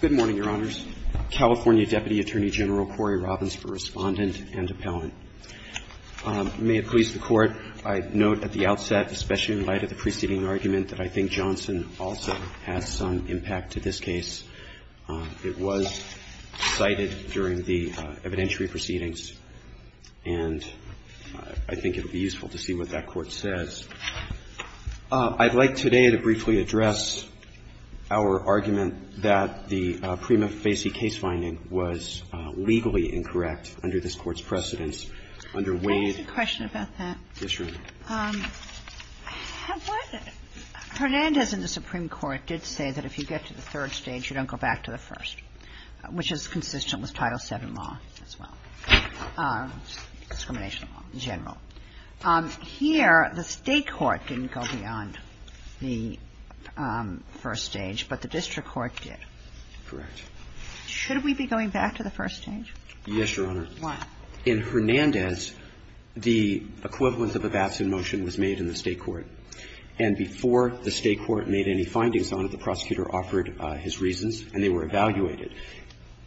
Good morning, Your Honors. California Deputy Attorney General Corey Robins for Respondent and Appellant. May it please the Court, I note at the outset, especially in light of the preceding argument, that I think Johnson also has some impact to this case. It was cited during the evidentiary proceedings, and I think it will be useful to see what that Court says. I'd like today to briefly address our argument that the Prima Facie case finding was legally incorrect under this Court's precedence, under Wade. Can I ask a question about that? Yes, Your Honor. Hernandez in the Supreme Court did say that if you get to the third stage, you don't go back to the first, which is consistent with Title VII law as well, discrimination law in general. Here, the State court didn't go beyond the first stage, but the district court did. Correct. Should we be going back to the first stage? Yes, Your Honor. Why? In Hernandez, the equivalent of a VATS in motion was made in the State court. And before the State court made any findings on it, the prosecutor offered his reasons and they were evaluated.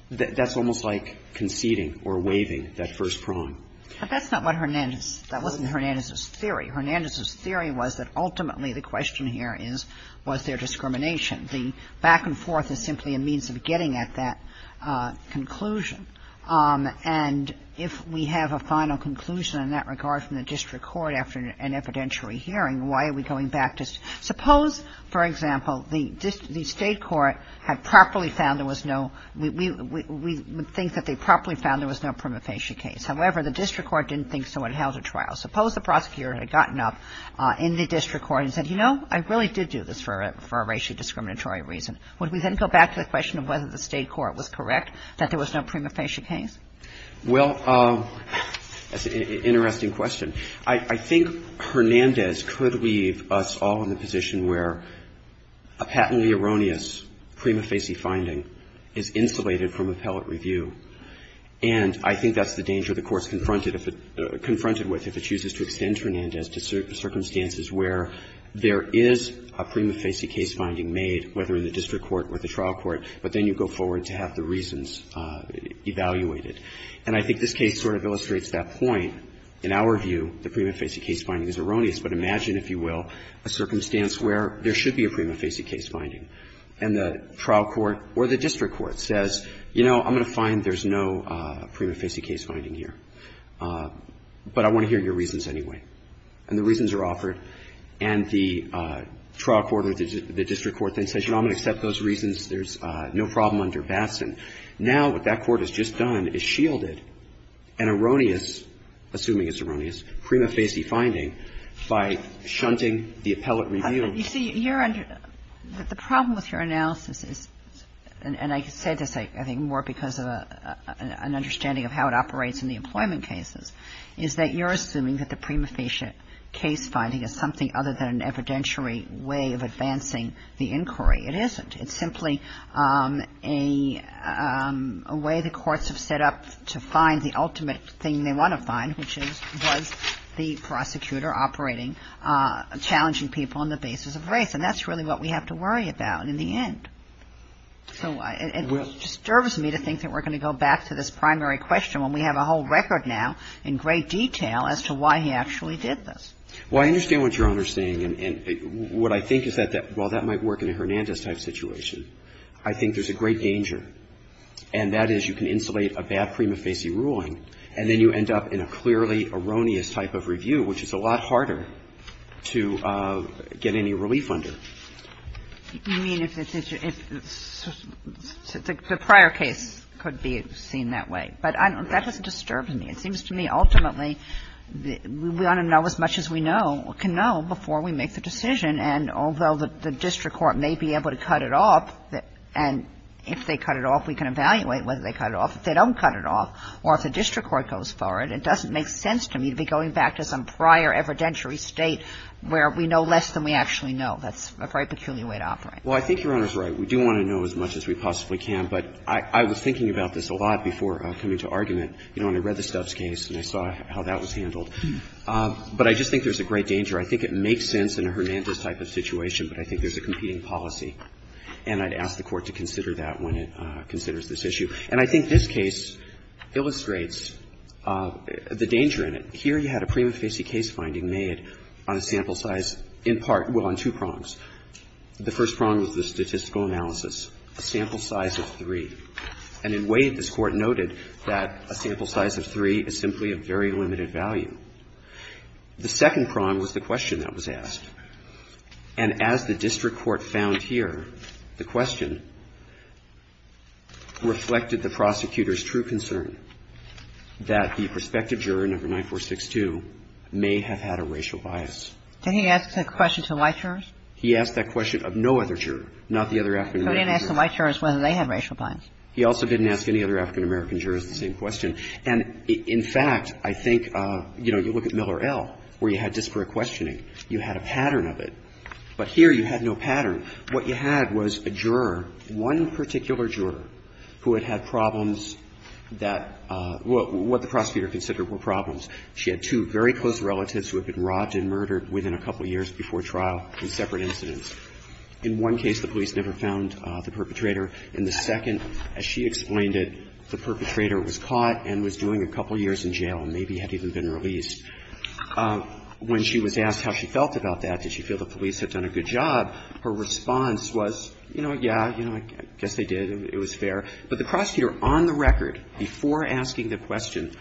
That's almost like conceding or waiving that first prong. But that's not what Hernandez — that wasn't Hernandez's theory. Hernandez's theory was that ultimately the question here is, was there discrimination? The back-and-forth is simply a means of getting at that conclusion. And if we have a final conclusion in that regard from the district court after an evidentiary hearing, why are we going back to — suppose, for example, the State court had properly found there was no — we would think that they properly found there was no Prima facie case. However, the district court didn't think so and held a trial. Suppose the prosecutor had gotten up in the district court and said, you know, I really did do this for a racially discriminatory reason. Would we then go back to the question of whether the State court was correct, that there was no Prima facie case? Well, that's an interesting question. I think Hernandez could leave us all in the position where a patently erroneous Prima facie finding is insulated from appellate review. And I think that's the danger the Court's confronted with if it chooses to extend Hernandez to circumstances where there is a Prima facie case finding made, whether in the district court or the trial court, but then you go forward to have the reasons evaluated. And I think this case sort of illustrates that point. In our view, the Prima facie case finding is erroneous, but imagine, if you will, a circumstance where there should be a Prima facie case finding. And the trial court or the district court says, you know, I'm going to find there's no Prima facie case finding here, but I want to hear your reasons anyway. And the reasons are offered, and the trial court or the district court then says, you know, I'm going to accept those reasons. There's no problem under Batson. Now what that court has just done is shielded an erroneous, assuming it's erroneous, Prima facie finding by shunting the appellate review. You see, you're under the problem with your analysis is, and I said this, I think, more because of an understanding of how it operates in the employment cases, is that you're assuming that the Prima facie case finding is something other than an evidentiary way of advancing the inquiry. It isn't. It's simply a way the courts have set up to find the ultimate thing they want to find, which is, was the prosecutor operating, challenging people on the basis of race. And that's really what we have to worry about in the end. So it disturbs me to think that we're going to go back to this primary question when we have a whole record now in great detail as to why he actually did this. Well, I understand what Your Honor is saying. And what I think is that while that might work in a Hernandez-type situation, I think there's a great danger, and that is you can insulate a bad Prima facie ruling, and then you end up in a clearly erroneous type of review, which is a lot harder to get any relief under. You mean if the prior case could be seen that way. But that doesn't disturb me. It seems to me ultimately we want to know as much as we know, can know, before we make the decision. And although the district court may be able to cut it off, and if they cut it off, we can evaluate whether they cut it off. If they don't cut it off, or if the district court goes for it, it doesn't make sense to me to be going back to some prior evidentiary State where we know less than we actually know. That's a very peculiar way to operate. Well, I think Your Honor's right. We do want to know as much as we possibly can. But I was thinking about this a lot before coming to argument. You know, when I read the Stubbs case and I saw how that was handled. But I just think there's a great danger. I think it makes sense in a Hernandez-type of situation, but I think there's a competing policy. And I'd ask the Court to consider that when it considers this issue. And I think this case illustrates the danger in it. Here you had a prima facie case finding made on a sample size in part, well, on two prongs. The first prong was the statistical analysis, a sample size of three. And in Wade, this Court noted that a sample size of three is simply of very limited value. The second prong was the question that was asked. And as the district court found here, the question reflected the prosecutor's true concern that the prospective juror, number 9462, may have had a racial bias. Did he ask that question to white jurors? He asked that question of no other juror, not the other African-American juror. He didn't ask the white jurors whether they had racial bias. He also didn't ask any other African-American jurors the same question. And in fact, I think, you know, you look at Miller L., where you had disparate questioning. You had a pattern of it. But here you had no pattern. What you had was a juror, one particular juror, who had had problems that what the prosecutor considered were problems. She had two very close relatives who had been robbed and murdered within a couple of years before trial in separate incidents. In one case, the police never found the perpetrator. In the second, as she explained it, the perpetrator was caught and was doing a couple of years in jail and maybe had even been released. When she was asked how she felt about that, did she feel the police had done a good job, her response was, you know, yeah, you know, I guess they did. It was fair. But the prosecutor on the record before asking the question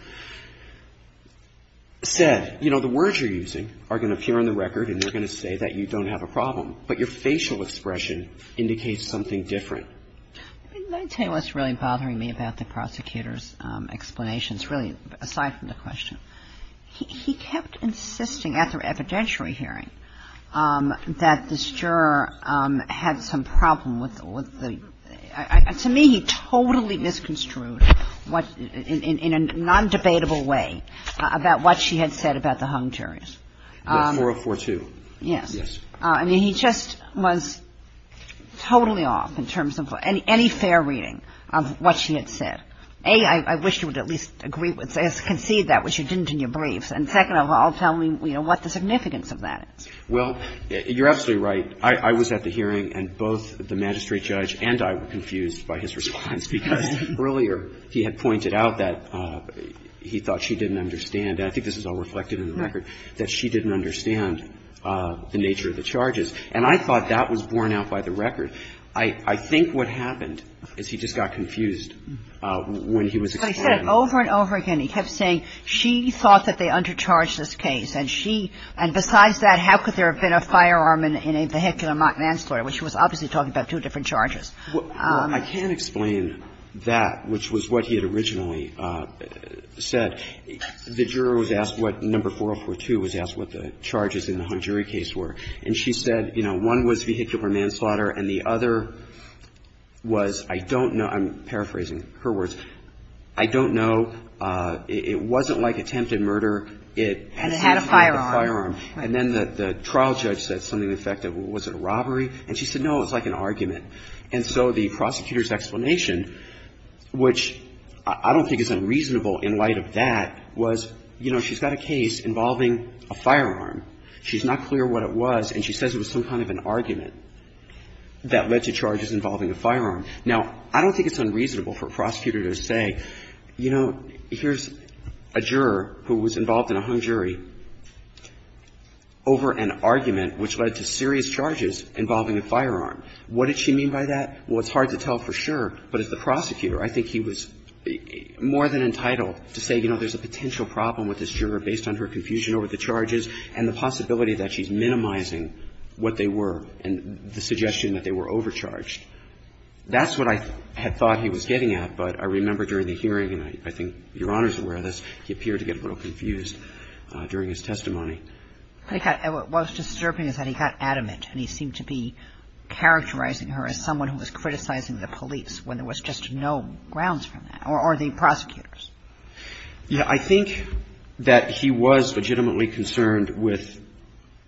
said, you know, the words you're using are going to appear on the record and they're going to say that you don't have a problem, but your facial expression indicates something different. I mean, let me tell you what's really bothering me about the prosecutor's explanations, really, aside from the question. He kept insisting after evidentiary hearing that this juror had some problem with the – to me, he totally misconstrued what – in a non-debatable way about what she had said about the hung jury. The 4042. Yes. Yes. I mean, he just was totally off in terms of any fair reading of what she had said. A, I wish you would at least agree with this, concede that, which you didn't in your briefs, and second of all, tell me, you know, what the significance of that is. Well, you're absolutely right. I was at the hearing and both the magistrate judge and I were confused by his response because earlier he had pointed out that he thought she didn't understand, and I think this is all reflected in the record, that she didn't understand the nature of the charges. And I thought that was borne out by the record. I think what happened is he just got confused when he was explaining that. But he said it over and over again. He kept saying she thought that they undercharged this case and she – and besides that, how could there have been a firearm in a vehicular manslaughter, which was obviously talking about two different charges. Well, I can explain that, which was what he had originally said. The juror was asked what number 4042 was asked what the charges in the Hung Jury case were. And she said, you know, one was vehicular manslaughter and the other was, I don't know, I'm paraphrasing her words, I don't know, it wasn't like attempted murder. It had a firearm. And then the trial judge said something to the effect of, was it a robbery? And she said, no, it was like an argument. And so the prosecutor's explanation, which I don't think is unreasonable in light of that, was, you know, she's got a case involving a firearm. She's not clear what it was and she says it was some kind of an argument that led to charges involving a firearm. Now, I don't think it's unreasonable for a prosecutor to say, you know, here's a juror who was involved in a Hung Jury over an argument which led to serious charges involving a firearm. What did she mean by that? Well, it's hard to tell for sure, but as the prosecutor, I think he was more than entitled to say, you know, there's a potential problem with this juror based on her confusion over the charges and the possibility that she's minimizing what they were and the suggestion that they were overcharged. That's what I had thought he was getting at, but I remember during the hearing, and I think Your Honor's aware of this, he appeared to get a little confused during his testimony. What was disturbing is that he got adamant and he seemed to be characterizing her as someone who was criticizing the police when there was just no grounds for that, or the prosecutors. Yeah. I think that he was legitimately concerned with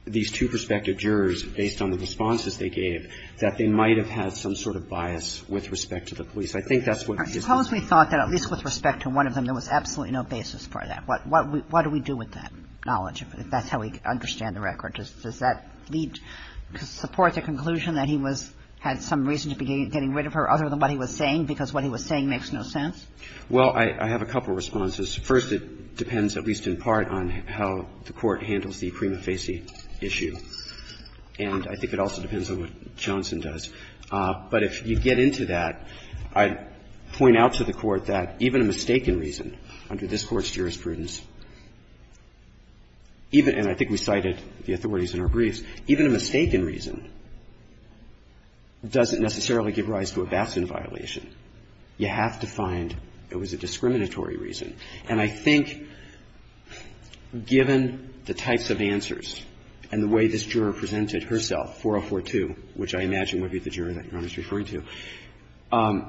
these two prospective jurors based on the responses they gave that they might have had some sort of bias with respect to the police. I think that's what his concern was. Suppose we thought that at least with respect to one of them, there was absolutely no basis for that. What do we do with that knowledge? That's how we understand the record. Does that lead to support the conclusion that he was – had some reason to be getting rid of her, other than what he was saying, because what he was saying makes no sense? Well, I have a couple of responses. First, it depends at least in part on how the Court handles the prima facie issue. And I think it also depends on what Johnson does. But if you get into that, I'd point out to the Court that even a mistaken reason under this Court's jurisprudence – and I think we cited the authorities in our briefs – even a mistaken reason doesn't necessarily give rise to a Batson violation. You have to find it was a discriminatory reason. And I think given the types of answers and the way this juror presented herself, 4042, which I imagine would be the juror that Your Honor is referring to, I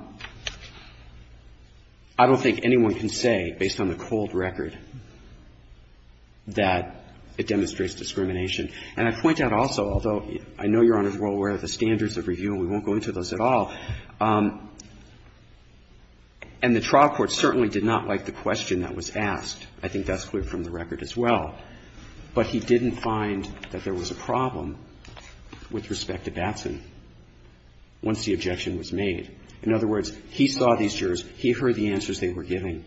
don't think anyone can say, based on the cold record, that it demonstrates discrimination. And I point out also, although I know Your Honor is well aware of the standards of review, and we won't go into those at all, and the trial court certainly did not like the question that was asked. I think that's clear from the record as well. But he didn't find that there was a problem with respect to Batson once the objection was made. In other words, he saw these jurors, he heard the answers they were giving,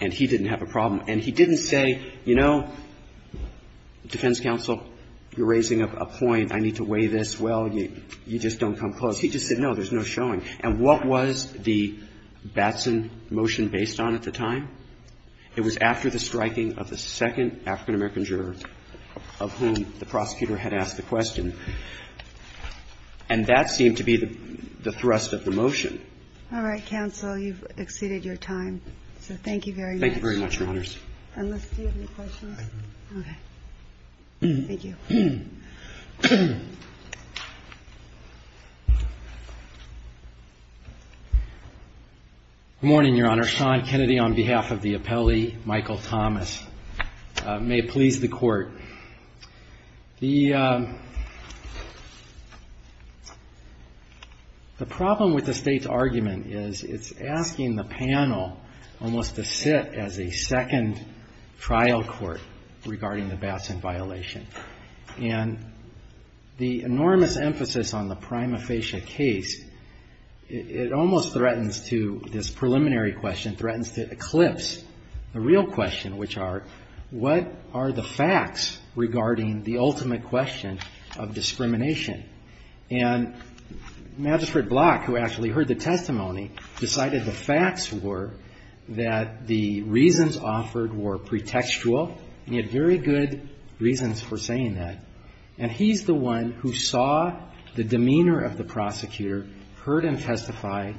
and he didn't have a problem. And he didn't say, you know, defense counsel, you're raising up a point, I need to weigh this well, you just don't come close. He just said, no, there's no showing. And what was the Batson motion based on at the time? It was after the striking of the second African-American juror of whom the prosecutor had asked the question. And that seemed to be the thrust of the motion. All right, counsel, you've exceeded your time. So thank you very much. Thank you very much, Your Honors. And let's see if we have any questions. Okay. Thank you. Good morning, Your Honor. Sean Kennedy on behalf of the appellee, Michael Thomas. May it please the Court. The problem with the State's argument is it's asking the panel almost to sit as a second trial court regarding the Batson violation. And the enormous emphasis on the prima facie case, it almost threatens to, this preliminary question, threatens to eclipse the real question, which are, what are the facts regarding the ultimate question of discrimination? And Magistrate Block, who actually heard the testimony, decided the facts were that the reasons offered were pretextual, and he had very good reasons for saying that. And he's the one who saw the demeanor of the prosecutor, heard him testify,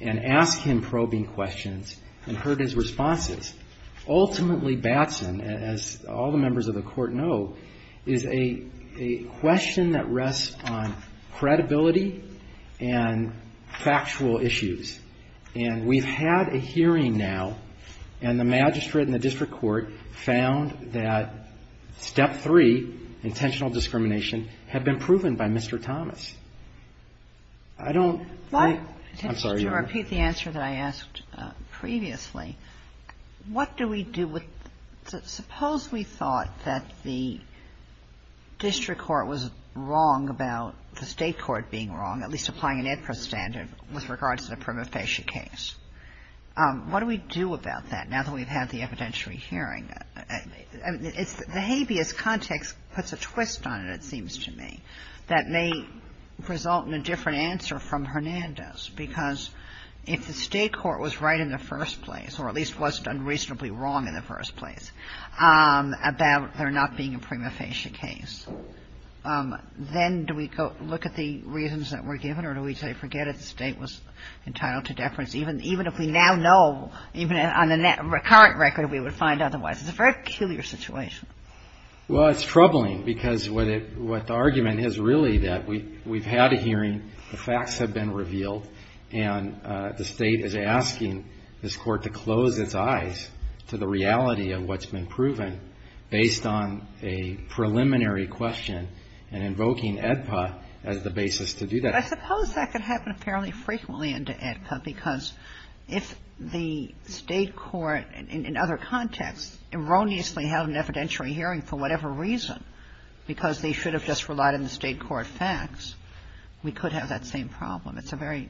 and asked him probing questions, and heard his responses. Ultimately, Batson, as all the members of the Court know, is a question that rests on credibility and factual issues. And we've had a hearing now, and the magistrate and the district court found that step three, intentional discrimination, had been proven by Mr. Thomas. I don't... Kagan. I'm not sure if the answer that I asked previously, what do we do with the – suppose we thought that the district court was wrong about the State court being wrong, at least applying an APRA standard with regards to the prima facie case. What do we do about that now that we've had the evidentiary hearing? The habeas context puts a twist on it, it seems to me, that may result in a different answer from Hernando's, because if the State court was right in the first place, or at least was done reasonably wrong in the first place, about there not being a prima facie case, then do we go look at the reasons that were given, or do we say, forget it, the State was entitled to deference, even if we now know, even on the current record, we would find otherwise? It's a very peculiar situation. Well, it's troubling, because what the argument is really that we've had a hearing, the facts have been revealed, and the State is asking this court to close its eyes to the reality of what's been proven based on a preliminary question, and invoking AEDPA as the basis to do that. I suppose that could happen fairly frequently under AEDPA, because if the State court, in other contexts, erroneously held an evidentiary hearing for whatever reason, because they should have just relied on the State court facts, we could have that same problem. It's a very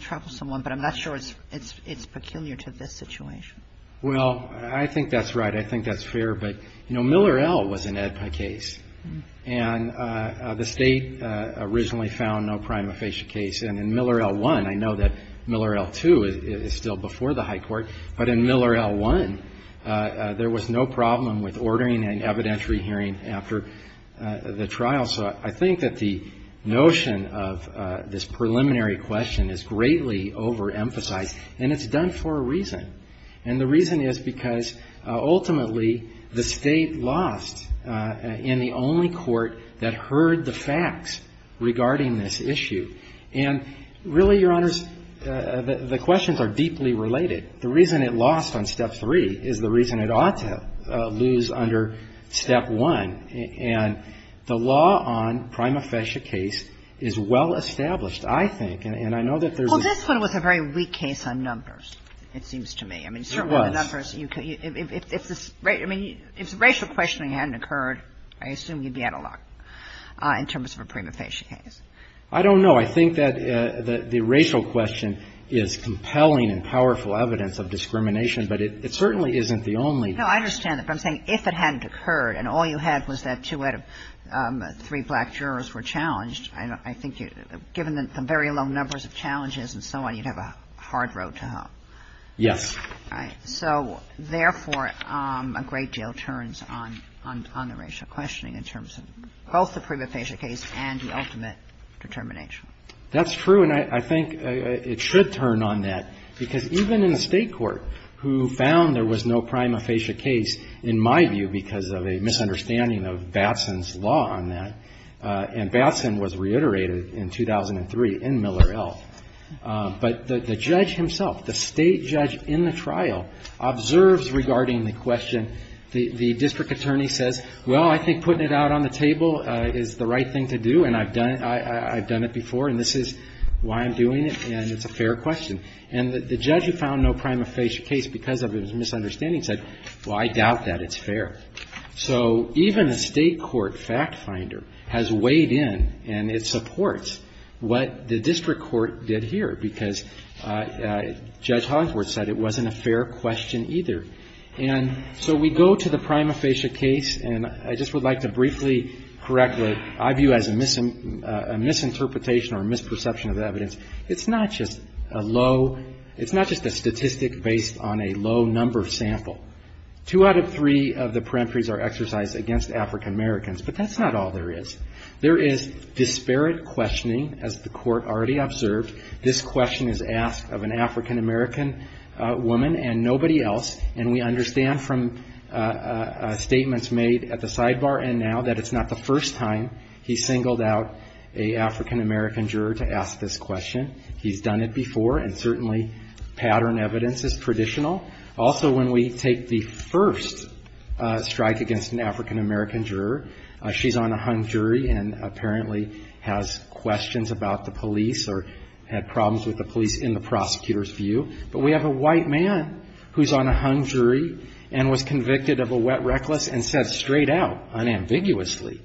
troublesome one, but I'm not sure it's peculiar to this situation. Well, I think that's right. I think that's fair. But, you know, Miller L. was an AEDPA case, and the State originally found no prima facie case. And in Miller L. 1, I know that Miller L. 2 is still before the High Court, but in Miller L. 1, there was no problem with ordering an evidentiary hearing after the trial. So I think that the notion of this preliminary question is greatly overemphasized, and it's done for a reason. And the reason is because, ultimately, the State lost in the only court that heard the facts regarding this issue. And really, Your Honors, the questions are deeply related. The reason it lost on Step 3 is the reason it ought to lose under Step 1. And the law on prima facie case is well-established, I think, and I know that there's a ---- Well, this one was a very weak case on numbers, it seems to me. I mean, certainly the numbers you could ---- It was. If the racial questioning hadn't occurred, I assume you'd be out of luck in terms of a prima facie case. I don't know. I think that the racial question is compelling and powerful evidence of discrimination, but it certainly isn't the only ---- No, I understand that. But I'm saying if it hadn't occurred and all you had was that two out of three black jurors were challenged, I think you'd ---- given the very low numbers of challenges and so on, you'd have a hard road to hop. Yes. So, therefore, a great deal turns on the racial questioning in terms of both the prima facie case and the ultimate determination. That's true, and I think it should turn on that, because even in the state court, who found there was no prima facie case, in my view, because of a misunderstanding of Batson's law on that, and Batson was reiterated in 2003 in Miller L, but the judge himself, the state judge in the trial, observes regarding the question. The district attorney says, well, I think putting it out on the table is the right thing to do, and I've done it before, and this is why I'm doing it, and it's a fair question. And the judge who found no prima facie case because of a misunderstanding said, well, I doubt that it's fair. So even a state court fact finder has weighed in, and it supports what the district court did here, because Judge Hogwarts said it wasn't a fair question either. And so we go to the prima facie case, and I just would like to briefly correct the ---- I would argue as a misinterpretation or misperception of evidence, it's not just a low ---- it's not just a statistic based on a low number sample. Two out of three of the peremptories are exercised against African Americans, but that's not all there is. There is disparate questioning, as the Court already observed. This question is asked of an African American woman and nobody else, and we understand from statements made at the sidebar and now that it's not the first time he's singled out an African American juror to ask this question. He's done it before, and certainly pattern evidence is traditional. Also when we take the first strike against an African American juror, she's on a hung jury and apparently has questions about the police or had problems with the police in the prosecutor's view, but we have a white man who's on a hung jury and was convicted of a wet reckless and said straight out, unambiguously,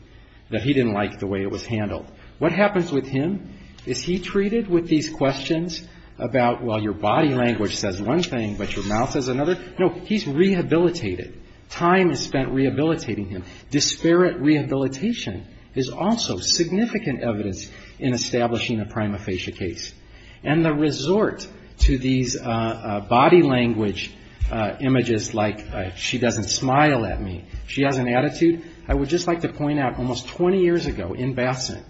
that he didn't like the way it was handled. What happens with him is he treated with these questions about, well, your body language says one thing, but your mouth says another. No, he's rehabilitated. Time is spent rehabilitating him. Disparate rehabilitation is also significant evidence in establishing a prima facie case. And the resort to these body language images like she doesn't smile at me, she has an attitude, I would just like to point out almost 20 years ago in Batson,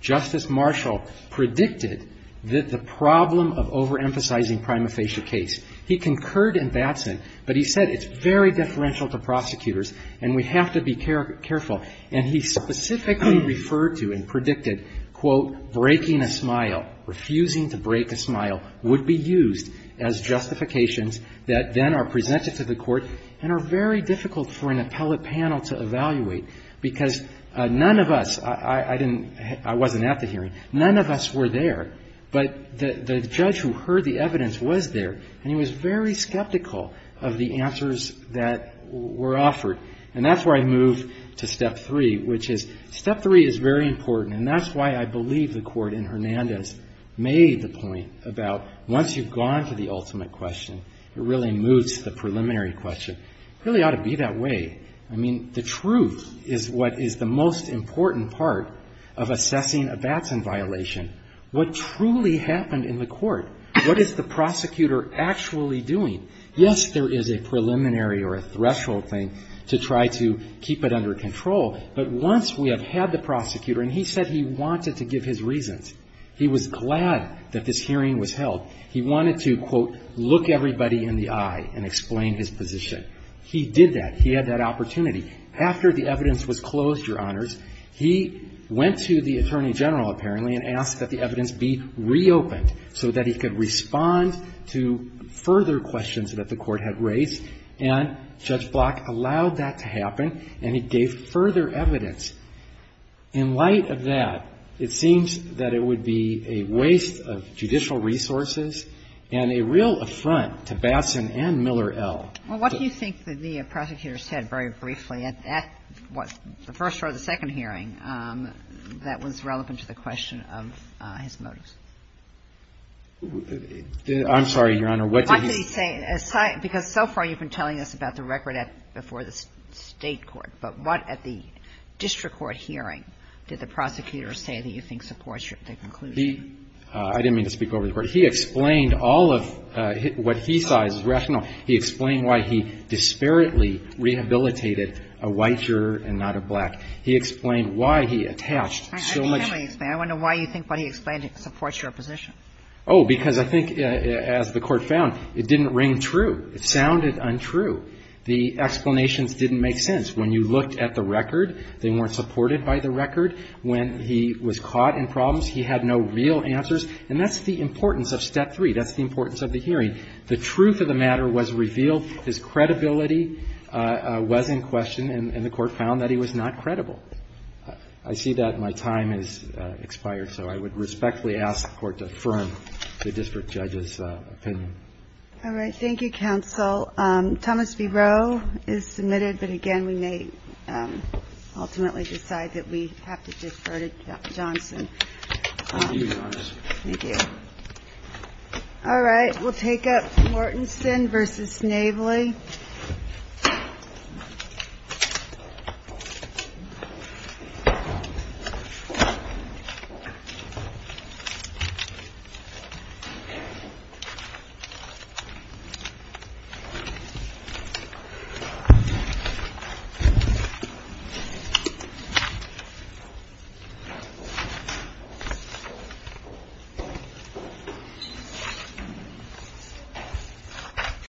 Justice Marshall predicted that the problem of overemphasizing prima facie case, he concurred in Batson, but he said it's very deferential to prosecutors and we have to be careful. And he specifically referred to and predicted, quote, breaking a smile, refusing to break a smile would be used as justifications that then are presented to the court and are very difficult for an appellate panel to evaluate because none of us, I wasn't at the hearing, none of us were there, but the judge who heard the evidence was there and he was very skeptical of the answers that were offered. And that's where I move to step three, which is step three is very important and that's why I believe the court in Hernandez made the point about once you've gone to the ultimate question, it really moves to the preliminary question. It really ought to be that way. I mean, the truth is what is the most important part of assessing a Batson violation. What truly happened in the court? What is the prosecutor actually doing? Yes, there is a preliminary or a threshold thing to try to keep it under control, but once we have had the prosecutor and he said he wanted to give his reasons, he was glad that this hearing was held, he wanted to, quote, look everybody in the eye and explain his position. He did that. He had that opportunity. After the evidence was closed, Your Honors, he went to the attorney general apparently and asked that the evidence be reopened so that he could respond to further questions that the court had raised, and Judge Block allowed that to happen and he gave further evidence. In light of that, it seems that it would be a waste of judicial resources and a real affront to Batson and Miller, L. Well, what do you think the prosecutor said very briefly at that, what, the first or the second question of his motives? I'm sorry, Your Honor, what did he say? Because so far you've been telling us about the record before the State court, but what at the district court hearing did the prosecutor say that you think supports the conclusion? I didn't mean to speak over the Court. He explained all of what he saw as rational. He explained why he disparately rehabilitated a white juror and not a black. He explained why he attached so much. I want to know why you think what he explained supports your position. Oh, because I think, as the Court found, it didn't ring true. It sounded untrue. The explanations didn't make sense. When you looked at the record, they weren't supported by the record. When he was caught in problems, he had no real answers. And that's the importance of Step 3. That's the importance of the hearing. The truth of the matter was revealed. His credibility was in question, and the Court found that he was not credible. I see that my time has expired, so I would respectfully ask the Court to affirm the district judge's opinion. All right. Thank you, counsel. Thomas B. Rowe is submitted, but again, we may ultimately decide that we have to defer to Johnson. Thank you, Your Honor. Thank you. All right. We'll take up Mortenson v. Navely.